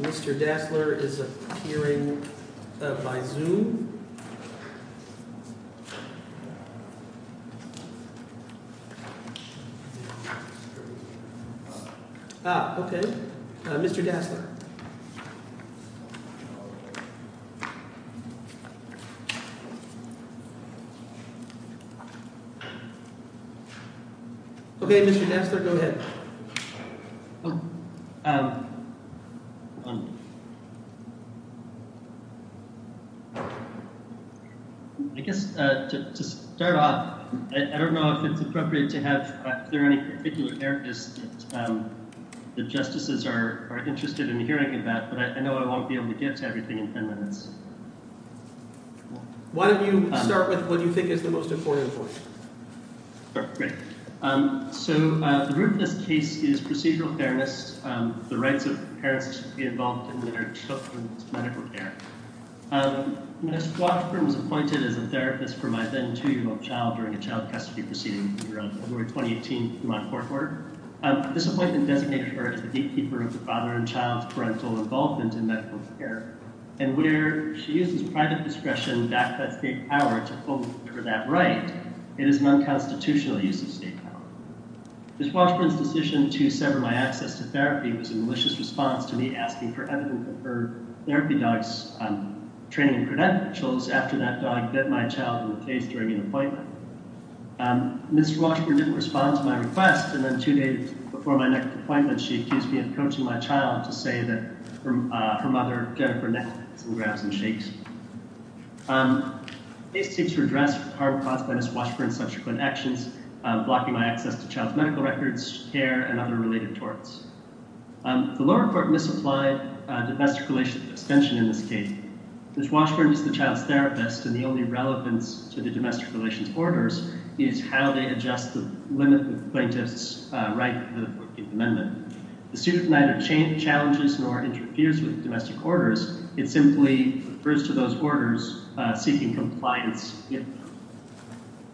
Mr. Dasler is appearing by Zoom. Okay, Mr. Dasler, go ahead. I guess, to start off, I don't know if it's appropriate to have, if there are any particular areas that justices are interested in hearing about, but I know I won't be able to get to everything in ten minutes. Why don't you start with what you think is the most important for you. Sure, great. So, the root of this case is procedural fairness, the rights of parents to be involved in their children's medical care. Ms. Washburn was appointed as a therapist for my then two-year-old child during a child custody proceeding around February 2018 in my court order. This appointment designated her as the gatekeeper of the father and child's parental involvement in medical care. And where she uses private discretion to back that state power to hold her that right, it is an unconstitutional use of state power. Ms. Washburn's decision to sever my access to therapy was a malicious response to me asking for evidence of her therapy dog's training and credentials after that dog bit my child in the face during an appointment. Ms. Washburn didn't respond to my request, and then two days before my next appointment, she accused me of coaching my child to say that her mother gave her neck massages and shakes. These things were addressed by Ms. Washburn's subsequent actions, blocking my access to child's medical records, care, and other related torts. The lower court misapplied domestic relations extension in this case. Ms. Washburn is the child's therapist, and the only relevance to the domestic relations orders is how they adjust the limit that plaintiffs write to the 14th Amendment. The suit neither challenges nor interferes with domestic orders. It simply refers to those orders seeking compliance.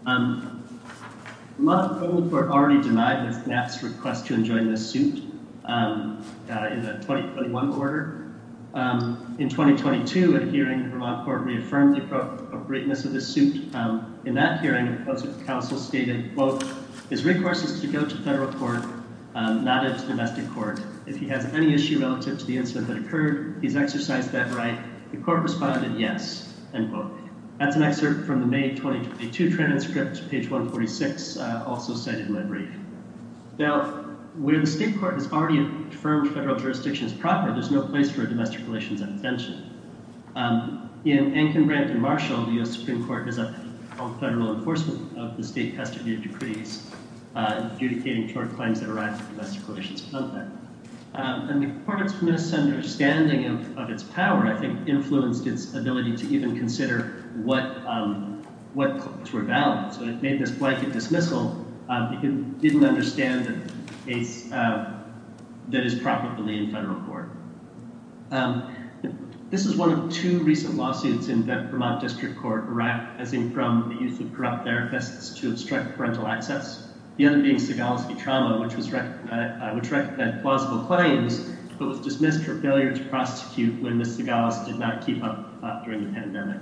Vermont court already denied Ms. Knapp's request to enjoin this suit in the 2021 order. In 2022, a hearing, Vermont court reaffirmed the appropriateness of this suit. In that hearing, the counsel stated, quote, his request is to go to federal court, not a domestic court. If he has any issue relative to the incident that occurred, he's exercised that right. The court responded yes, end quote. That's an excerpt from the May 2022 transcript, page 146, also cited in my brief. Now, where the state court has already affirmed federal jurisdiction is proper, there's no place for domestic relations extension. In Enkin, Brant, and Marshall, the U.S. Supreme Court has upheld federal enforcement of the state custody of decrees adjudicating short claims that arise with domestic relations content. And the court's misunderstanding of its power, I think, influenced its ability to even consider what claims were valid. So it made this blanket dismissal because it didn't understand that it's, that it's This is one of two recent lawsuits in the Vermont District Court arising from the use of corrupt therapists to obstruct parental access. The other being Sagalowski trauma, which was, which recommended plausible claims, but was dismissed for failure to prosecute when Ms. Sagalowski did not keep up during the pandemic.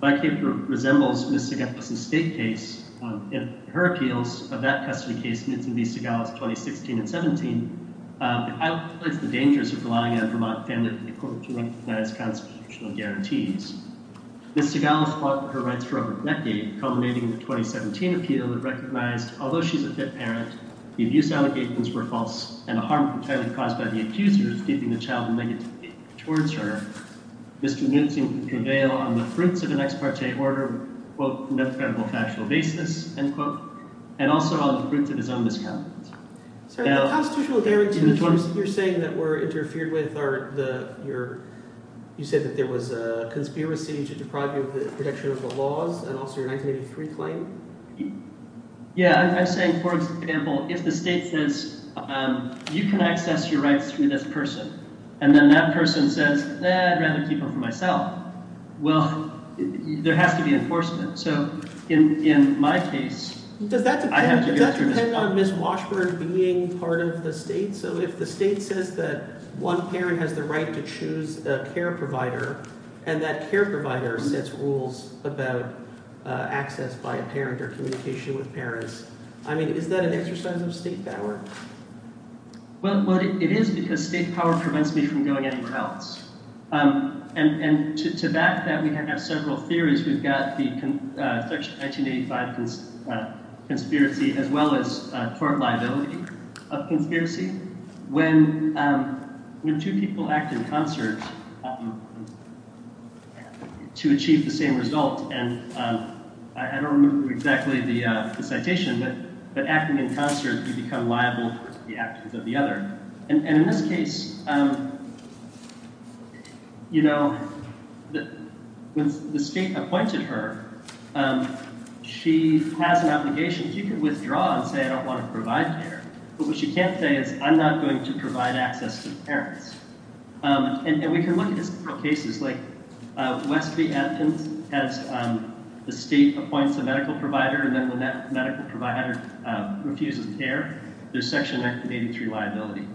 My paper resembles Ms. Sagalowski's state case, and her appeals of that custody case, Mr. Knutson v. Sagalowski, 2016 and 17, highlights the dangers of relying on Vermont family to recognize constitutional guarantees. Ms. Sagalowski fought for her rights for over a decade, culminating in a 2017 appeal that recognized, although she's a fit parent, the abuse allegations were false, and the harm entirely caused by the accusers, keeping the child negative towards her, Mr. Knutson could prevail on the fruits of an ex parte order, quote, on a credible factual basis, end quote, and also on the fruits of his own misconduct. Sir, the constitutional guarantees that you're saying that were interfered with are the, your, you said that there was a conspiracy to deprive you of the protection of the laws, and also your 1983 claim? Yeah, I'm saying, for example, if the state says, you can access your rights through this person, and then that person says, eh, I'd rather keep them for myself, well, there has to be enforcement. So in my case, I have to go through this. Does that depend on Ms. Washburn being part of the state? So if the state says that one parent has the right to choose a care provider, and that care provider sets rules about access by a parent or communication with parents, I mean, is that an exercise of state power? Well, it is because state power prevents me from going anywhere else. And to that, we have several theories. We've got the 1985 conspiracy, as well as court liability of conspiracy. When two people act in concert to achieve the same result, and I don't remember exactly the citation, but acting in concert, you become liable for the actions of the other. And in this case, you know, when the state appointed her, she has an obligation. She could withdraw and say, I don't want to provide care. But what she can't say is, I'm not going to provide access to parents. And we can look at several cases, like Westby, Athens, has the state appoints a medical provider, and then the medical provider refuses care. There's Section 1983 liability.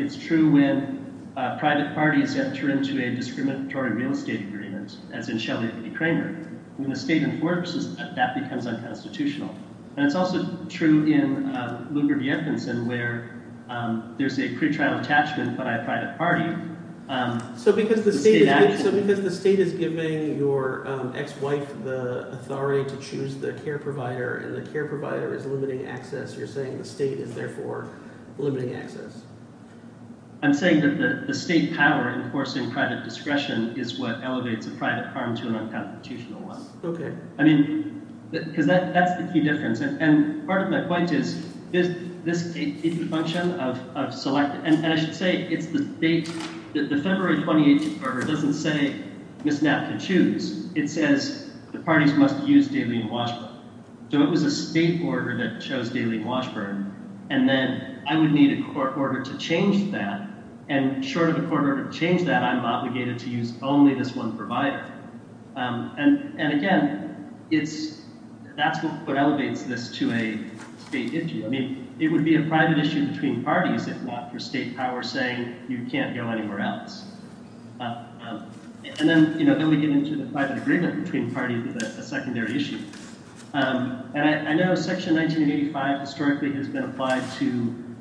It's true when private parties have turned to a discriminatory real estate agreement, as in Shelley v. Kramer. When the state enforces that, that becomes unconstitutional. And it's also true in Lugar v. Edmondson, where there's a pretrial attachment, but by a private party. So because the state is giving your ex-wife the authority to choose the care provider, and the care provider is limiting access, you're saying the state is therefore limiting access. I'm saying that the state power enforcing private discretion is what elevates a private harm to an unconstitutional one. Okay. I mean, because that's the key difference. And part of my point is, is this a function of select – and I should say, it's the date. The February 28th order doesn't say Ms. Knapp can choose. It says the parties must use Darlene Washburn. So it was a state order that chose Darlene Washburn. And then I would need a court order to change that. And short of a court order to change that, I'm obligated to use only this one provider. And again, it's – that's what elevates this to a state issue. I mean, it would be a private issue between parties, if not for state power saying you can't go anywhere else. And then, you know, then we get into the private agreement between parties with a secondary issue. And I know Section 1985 historically has been applied to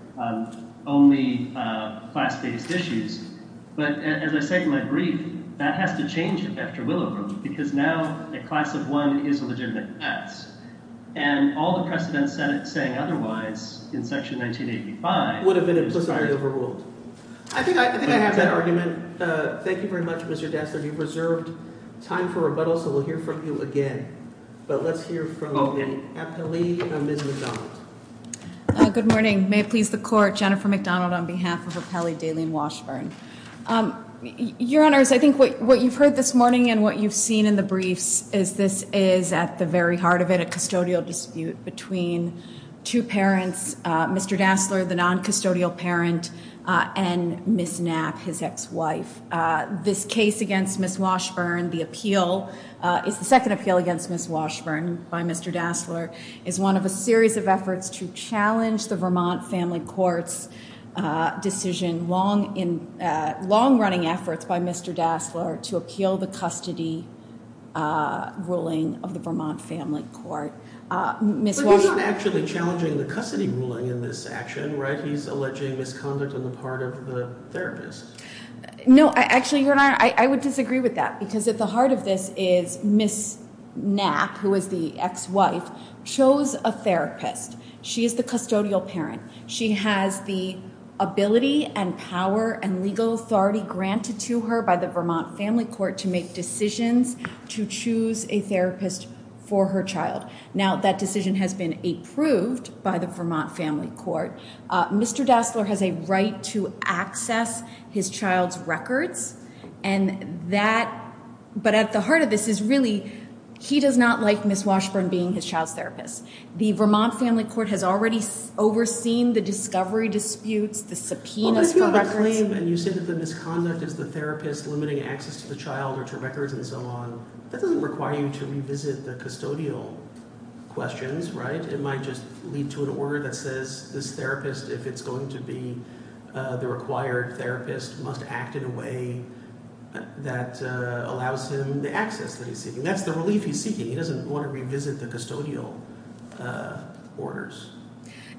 only class-based issues. But as I say in my brief, that has to change after Willowbrook because now a class of one is a legitimate class. And all the precedents saying otherwise in Section 1985 – Would have been implicitly overruled. I think I have that argument. Thank you very much, Mr. Dassler. You've reserved time for rebuttal, so we'll hear from you again. But let's hear from the appellee, Ms. McDonald. Good morning. May it please the Court. Jennifer McDonald on behalf of Appellee Darlene Washburn. Your Honors, I think what you've heard this morning and what you've seen in the briefs is this is, at the very heart of it, a custodial dispute between two parents, Mr. Dassler, the non-custodial parent, and Ms. Knapp, his ex-wife. This case against Ms. Washburn, the appeal, is the second appeal against Ms. Washburn by Mr. Dassler, is one of a series of efforts to challenge the Vermont Family Court's decision, long-running efforts by Mr. Dassler to appeal the custody ruling of the Vermont Family Court. But he's not actually challenging the custody ruling in this action, right? He's alleging misconduct on the part of the therapist. No, actually, Your Honor, I would disagree with that, because at the heart of this is Ms. Knapp, who is the ex-wife, chose a therapist. She is the custodial parent. She has the ability and power and legal authority granted to her by the Vermont Family Court to make decisions, to choose a therapist for her child. Now, that decision has been approved by the Vermont Family Court. Mr. Dassler has a right to access his child's records, and that, but at the heart of this is really, he does not like Ms. Washburn being his child's therapist. The Vermont Family Court has already overseen the discovery disputes, the subpoenas for records. But if you claim and you say that the misconduct is the therapist limiting access to the child or to records and so on, that doesn't require you to revisit the custodial questions, right? It might just lead to an order that says this therapist, if it's going to be the required therapist, must act in a way that allows him the access that he's seeking. That's the relief he's seeking. He doesn't want to revisit the custodial orders.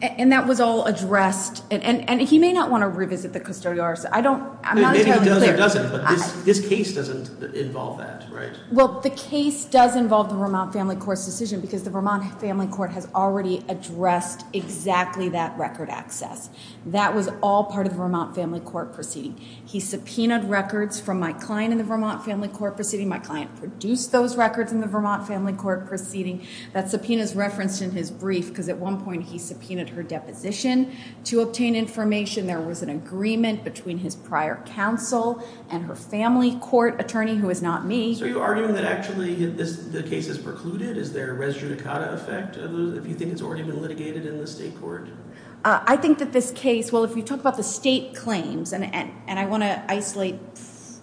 And that was all addressed, and he may not want to revisit the custodial orders. I'm not entirely clear. Maybe he does or doesn't, but this case doesn't involve that, right? Well, the case does involve the Vermont Family Court's decision because the Vermont Family Court has already addressed exactly that record access. That was all part of the Vermont Family Court proceeding. He subpoenaed records from my client in the Vermont Family Court proceeding. My client produced those records in the Vermont Family Court proceeding. That subpoena is referenced in his brief because at one point he subpoenaed her deposition to obtain information. There was an agreement between his prior counsel and her family court attorney, who is not me. So you're arguing that actually the case is precluded? Is there a res judicata effect if you think it's already been litigated in the state court? I think that this case, well, if you talk about the state claims, and I want to isolate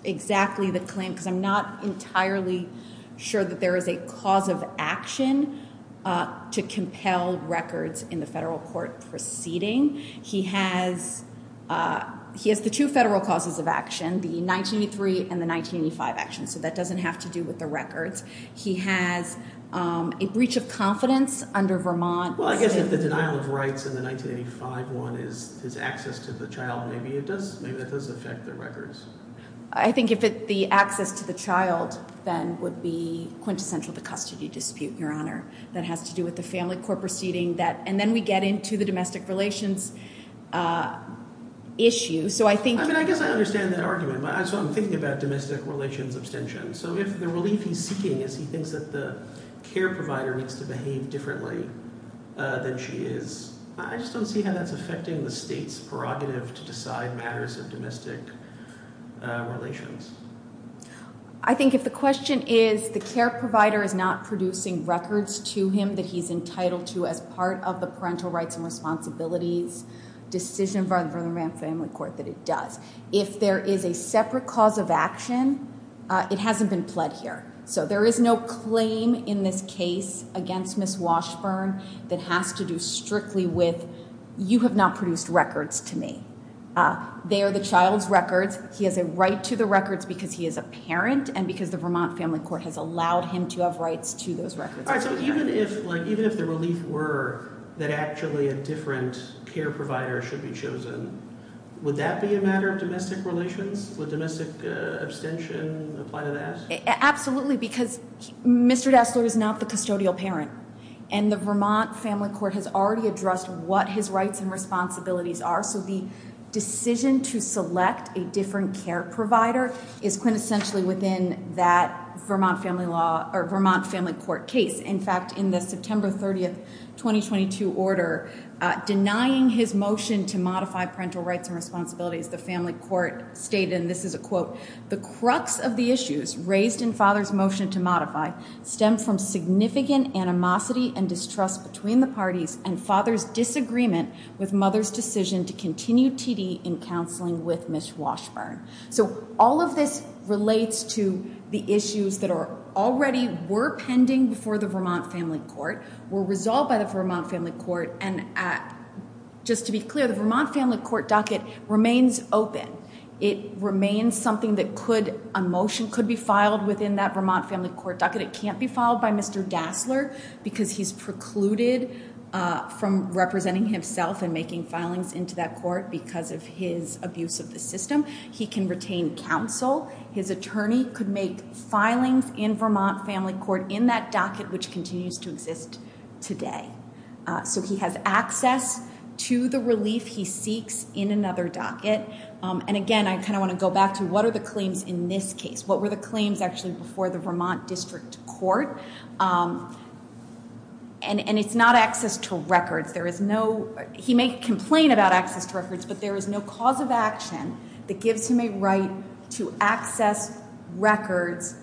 exactly the claim because I'm not entirely sure that there is a cause of action to compel records in the federal court proceeding. He has the two federal causes of action, the 1983 and the 1985 actions. So that doesn't have to do with the records. He has a breach of confidence under Vermont. Well, I guess if the denial of rights in the 1985 one is access to the child, maybe that does affect the records. I think if the access to the child then would be quintessential to custody dispute, Your Honor, that has to do with the family court proceeding. And then we get into the domestic relations issue. I mean, I guess I understand that argument. So I'm thinking about domestic relations abstention. So if the relief he's seeking is he thinks that the care provider needs to behave differently than she is, I just don't see how that's affecting the state's prerogative to decide matters of domestic relations. I think if the question is the care provider is not producing records to him that he's entitled to as part of the parental rights and responsibilities decision for the family court that it does. If there is a separate cause of action, it hasn't been pled here. So there is no claim in this case against Ms. Washburn that has to do strictly with you have not produced records to me. They are the child's records. He has a right to the records because he is a parent and because the Vermont Family Court has allowed him to have rights to those records. All right. So even if the relief were that actually a different care provider should be chosen, would that be a matter of domestic relations? Would domestic abstention apply to that? Absolutely, because Mr. Destler is not the custodial parent, and the Vermont Family Court has already addressed what his rights and responsibilities are. So the decision to select a different care provider is quintessentially within that Vermont Family Court case. In fact, in the September 30, 2022 order, denying his motion to modify parental rights and responsibilities, the family court stated, and this is a quote, the crux of the issues raised in father's motion to modify stem from significant animosity and distrust between the parties and father's disagreement with mother's decision to continue TD in counseling with Ms. Washburn. So all of this relates to the issues that already were pending before the Vermont Family Court, were resolved by the Vermont Family Court, and just to be clear, the Vermont Family Court docket remains open. It remains something that a motion could be filed within that Vermont Family Court docket. It can't be filed by Mr. Destler because he's precluded from representing himself and making filings into that court because of his abuse of the system. He can retain counsel. His attorney could make filings in Vermont Family Court in that docket, which continues to exist today. So he has access to the relief he seeks in another docket. And, again, I kind of want to go back to what are the claims in this case? What were the claims actually before the Vermont District Court? And it's not access to records. There is no he may complain about access to records, but there is no cause of action that gives him a right to access records,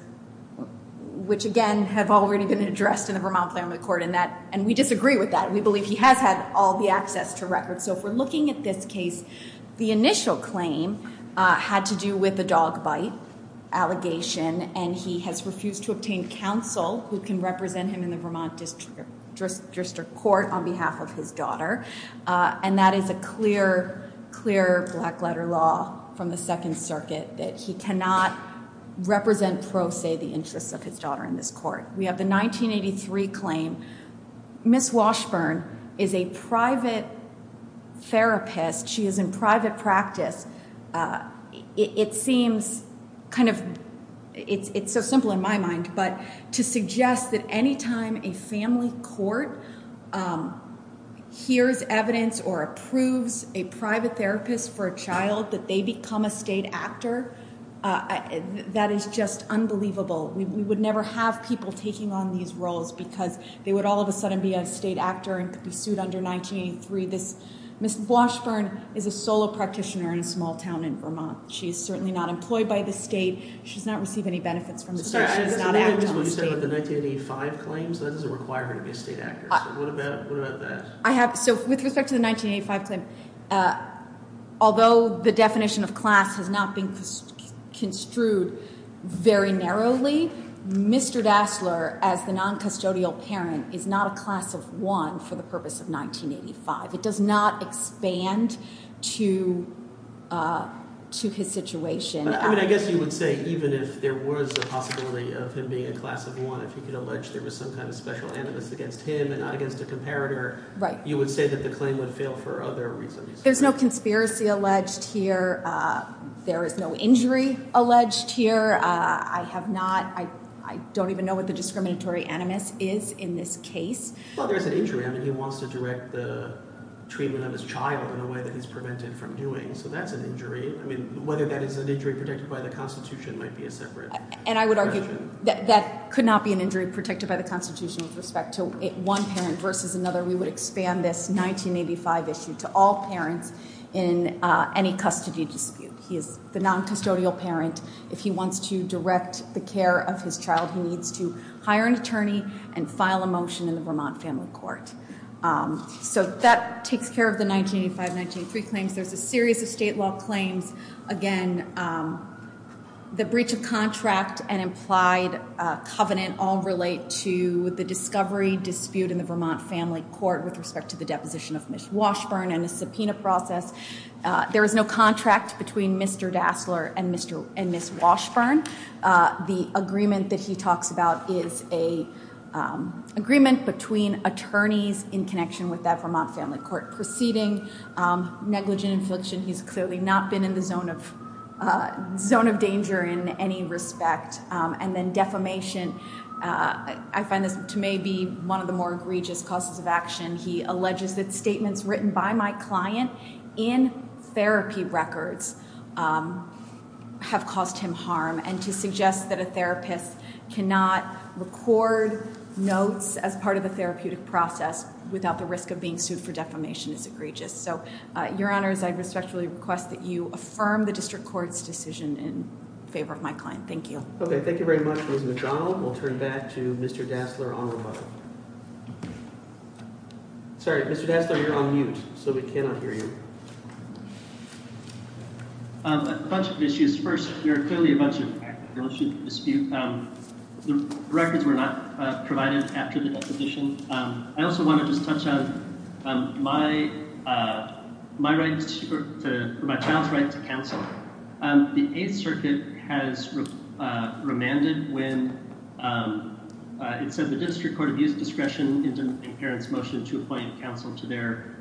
which, again, have already been addressed in the Vermont Family Court, and we disagree with that. We believe he has had all the access to records. So if we're looking at this case, the initial claim had to do with the dog bite allegation, and he has refused to obtain counsel who can represent him in the Vermont District Court on behalf of his daughter. And that is a clear, clear black letter law from the Second Circuit, that he cannot represent pro se the interests of his daughter in this court. We have the 1983 claim. Ms. Washburn is a private therapist. She is in private practice. It seems kind of so simple in my mind, but to suggest that any time a family court hears evidence or approves a private therapist for a child, that they become a state actor, that is just unbelievable. We would never have people taking on these roles because they would all of a sudden be a state actor and could be sued under 1983. Ms. Washburn is a solo practitioner in a small town in Vermont. She is certainly not employed by the state. She has not received any benefits from the state. She has not acted on the state. I'm sorry. I was wondering what you said about the 1985 claims. That doesn't require her to be a state actor. What about that? With respect to the 1985 claim, although the definition of class has not been construed very narrowly, Mr. Dassler, as the noncustodial parent, is not a class of one for the purpose of 1985. It does not expand to his situation. I guess you would say even if there was a possibility of him being a class of one, if you could allege there was some kind of special animus against him and not against a comparator, you would say that the claim would fail for other reasons. There's no conspiracy alleged here. There is no injury alleged here. I don't even know what the discriminatory animus is in this case. Well, there is an injury. I mean, he wants to direct the treatment of his child in a way that he's prevented from doing, so that's an injury. I mean, whether that is an injury protected by the Constitution might be a separate question. And I would argue that that could not be an injury protected by the Constitution with respect to one parent versus another. We would expand this 1985 issue to all parents in any custody dispute. He is the noncustodial parent. If he wants to direct the care of his child, he needs to hire an attorney and file a motion in the Vermont Family Court. So that takes care of the 1985-1983 claims. There's a series of state law claims. Again, the breach of contract and implied covenant all relate to the discovery dispute in the Vermont Family Court with respect to the deposition of Ms. Washburn and the subpoena process. There is no contract between Mr. Dassler and Ms. Washburn. The agreement that he talks about is an agreement between attorneys in connection with that Vermont Family Court proceeding. Negligent infliction, he's clearly not been in the zone of danger in any respect. And then defamation, I find this to maybe one of the more egregious causes of action. He alleges that statements written by my client in therapy records have caused him harm. And to suggest that a therapist cannot record notes as part of the therapeutic process without the risk of being sued for defamation is egregious. So, Your Honors, I respectfully request that you affirm the district court's decision in favor of my client. Thank you. Okay, thank you very much, Ms. McDonald. We'll turn back to Mr. Dassler on the phone. Sorry, Mr. Dassler, you're on mute, so we cannot hear you. A bunch of issues. First, there are clearly a bunch of issues of dispute. The records were not provided after the deposition. I also want to just touch on my child's right to counsel. The Eighth Circuit has remanded when it said the district court abused discretion in parents' motion to appoint counsel to their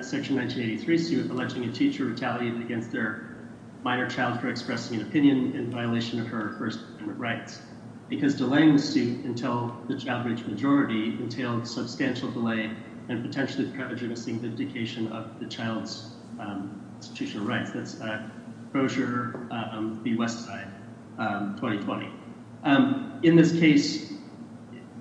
section 1983 suit, alleging a teacher retaliated against their minor child for expressing an opinion in violation of her or his human rights. Because delaying the suit until the child reached majority entailed substantial delay and potentially prejudicing vindication of the child's institutional rights. That's a brochure on the U.S. side, 2020. In this case,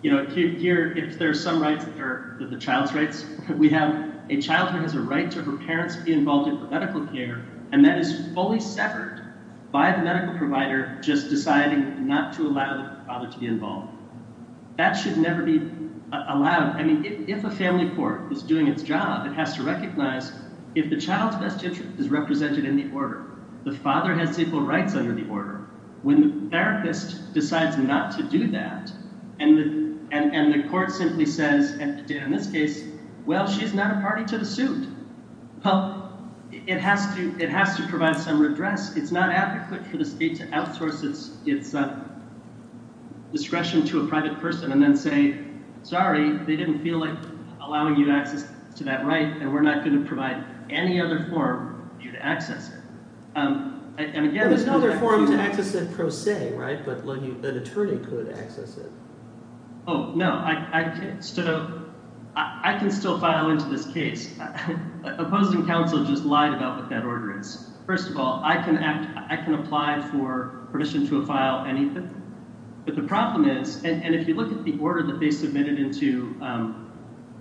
you know, here, if there are some rights that are the child's rights, we have a child who has a right to her parents be involved in medical care, and that is fully severed by the medical provider just deciding not to allow the father to be involved. That should never be allowed. I mean, if a family court is doing its job, it has to recognize if the child's best interest is represented in the order, the father has equal rights under the order. When the therapist decides not to do that and the court simply says, in this case, well, she's not a party to the suit, well, it has to provide some redress. It's not adequate for the state to outsource its discretion to a private person and then say, sorry, they didn't feel like allowing you access to that right, and we're not going to provide any other form for you to access it. And again, there's no other form to access it per se, right? But an attorney could access it. Oh, no. I can still file into this case. Opposing counsel just lied about what that order is. First of all, I can apply for permission to file anything. But the problem is, and if you look at the order that they submitted into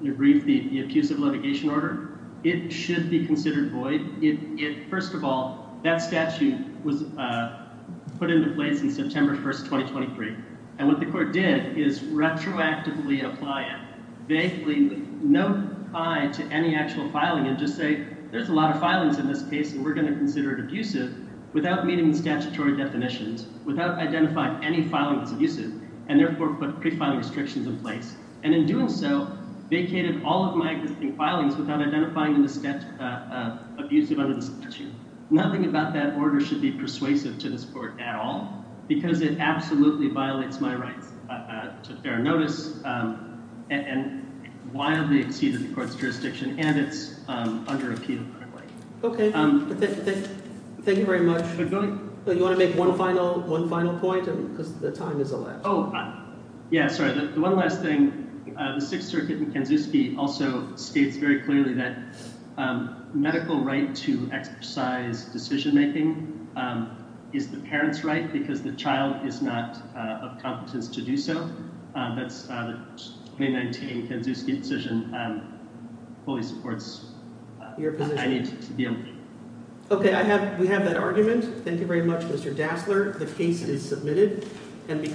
your brief, the abusive litigation order, it should be considered void. First of all, that statute was put into place in September 1st, 2023, and what the court did is retroactively apply it, basically no tie to any actual filing and just say there's a lot of filings in this case and we're going to consider it abusive without meeting the statutory definitions, without identifying any filing that's abusive, and therefore put pre-filing restrictions in place. And in doing so, vacated all of my existing filings without identifying them as abusive under the statute. Nothing about that order should be persuasive to this court at all because it absolutely violates my rights to fair notice, and wildly exceeded the court's jurisdiction, and it's under appeal currently. Okay. Thank you very much. You want to make one final point because the time is elapsed? Yeah, sorry. One last thing. The Sixth Circuit in Kanskowski also states very clearly that medical right to exercise decision-making is the parent's right because the child is not of competence to do so. That's the 2019 Kanskowski decision fully supports. I need to be on. Okay, we have that argument. Thank you very much, Mr. Dassler. The case is submitted.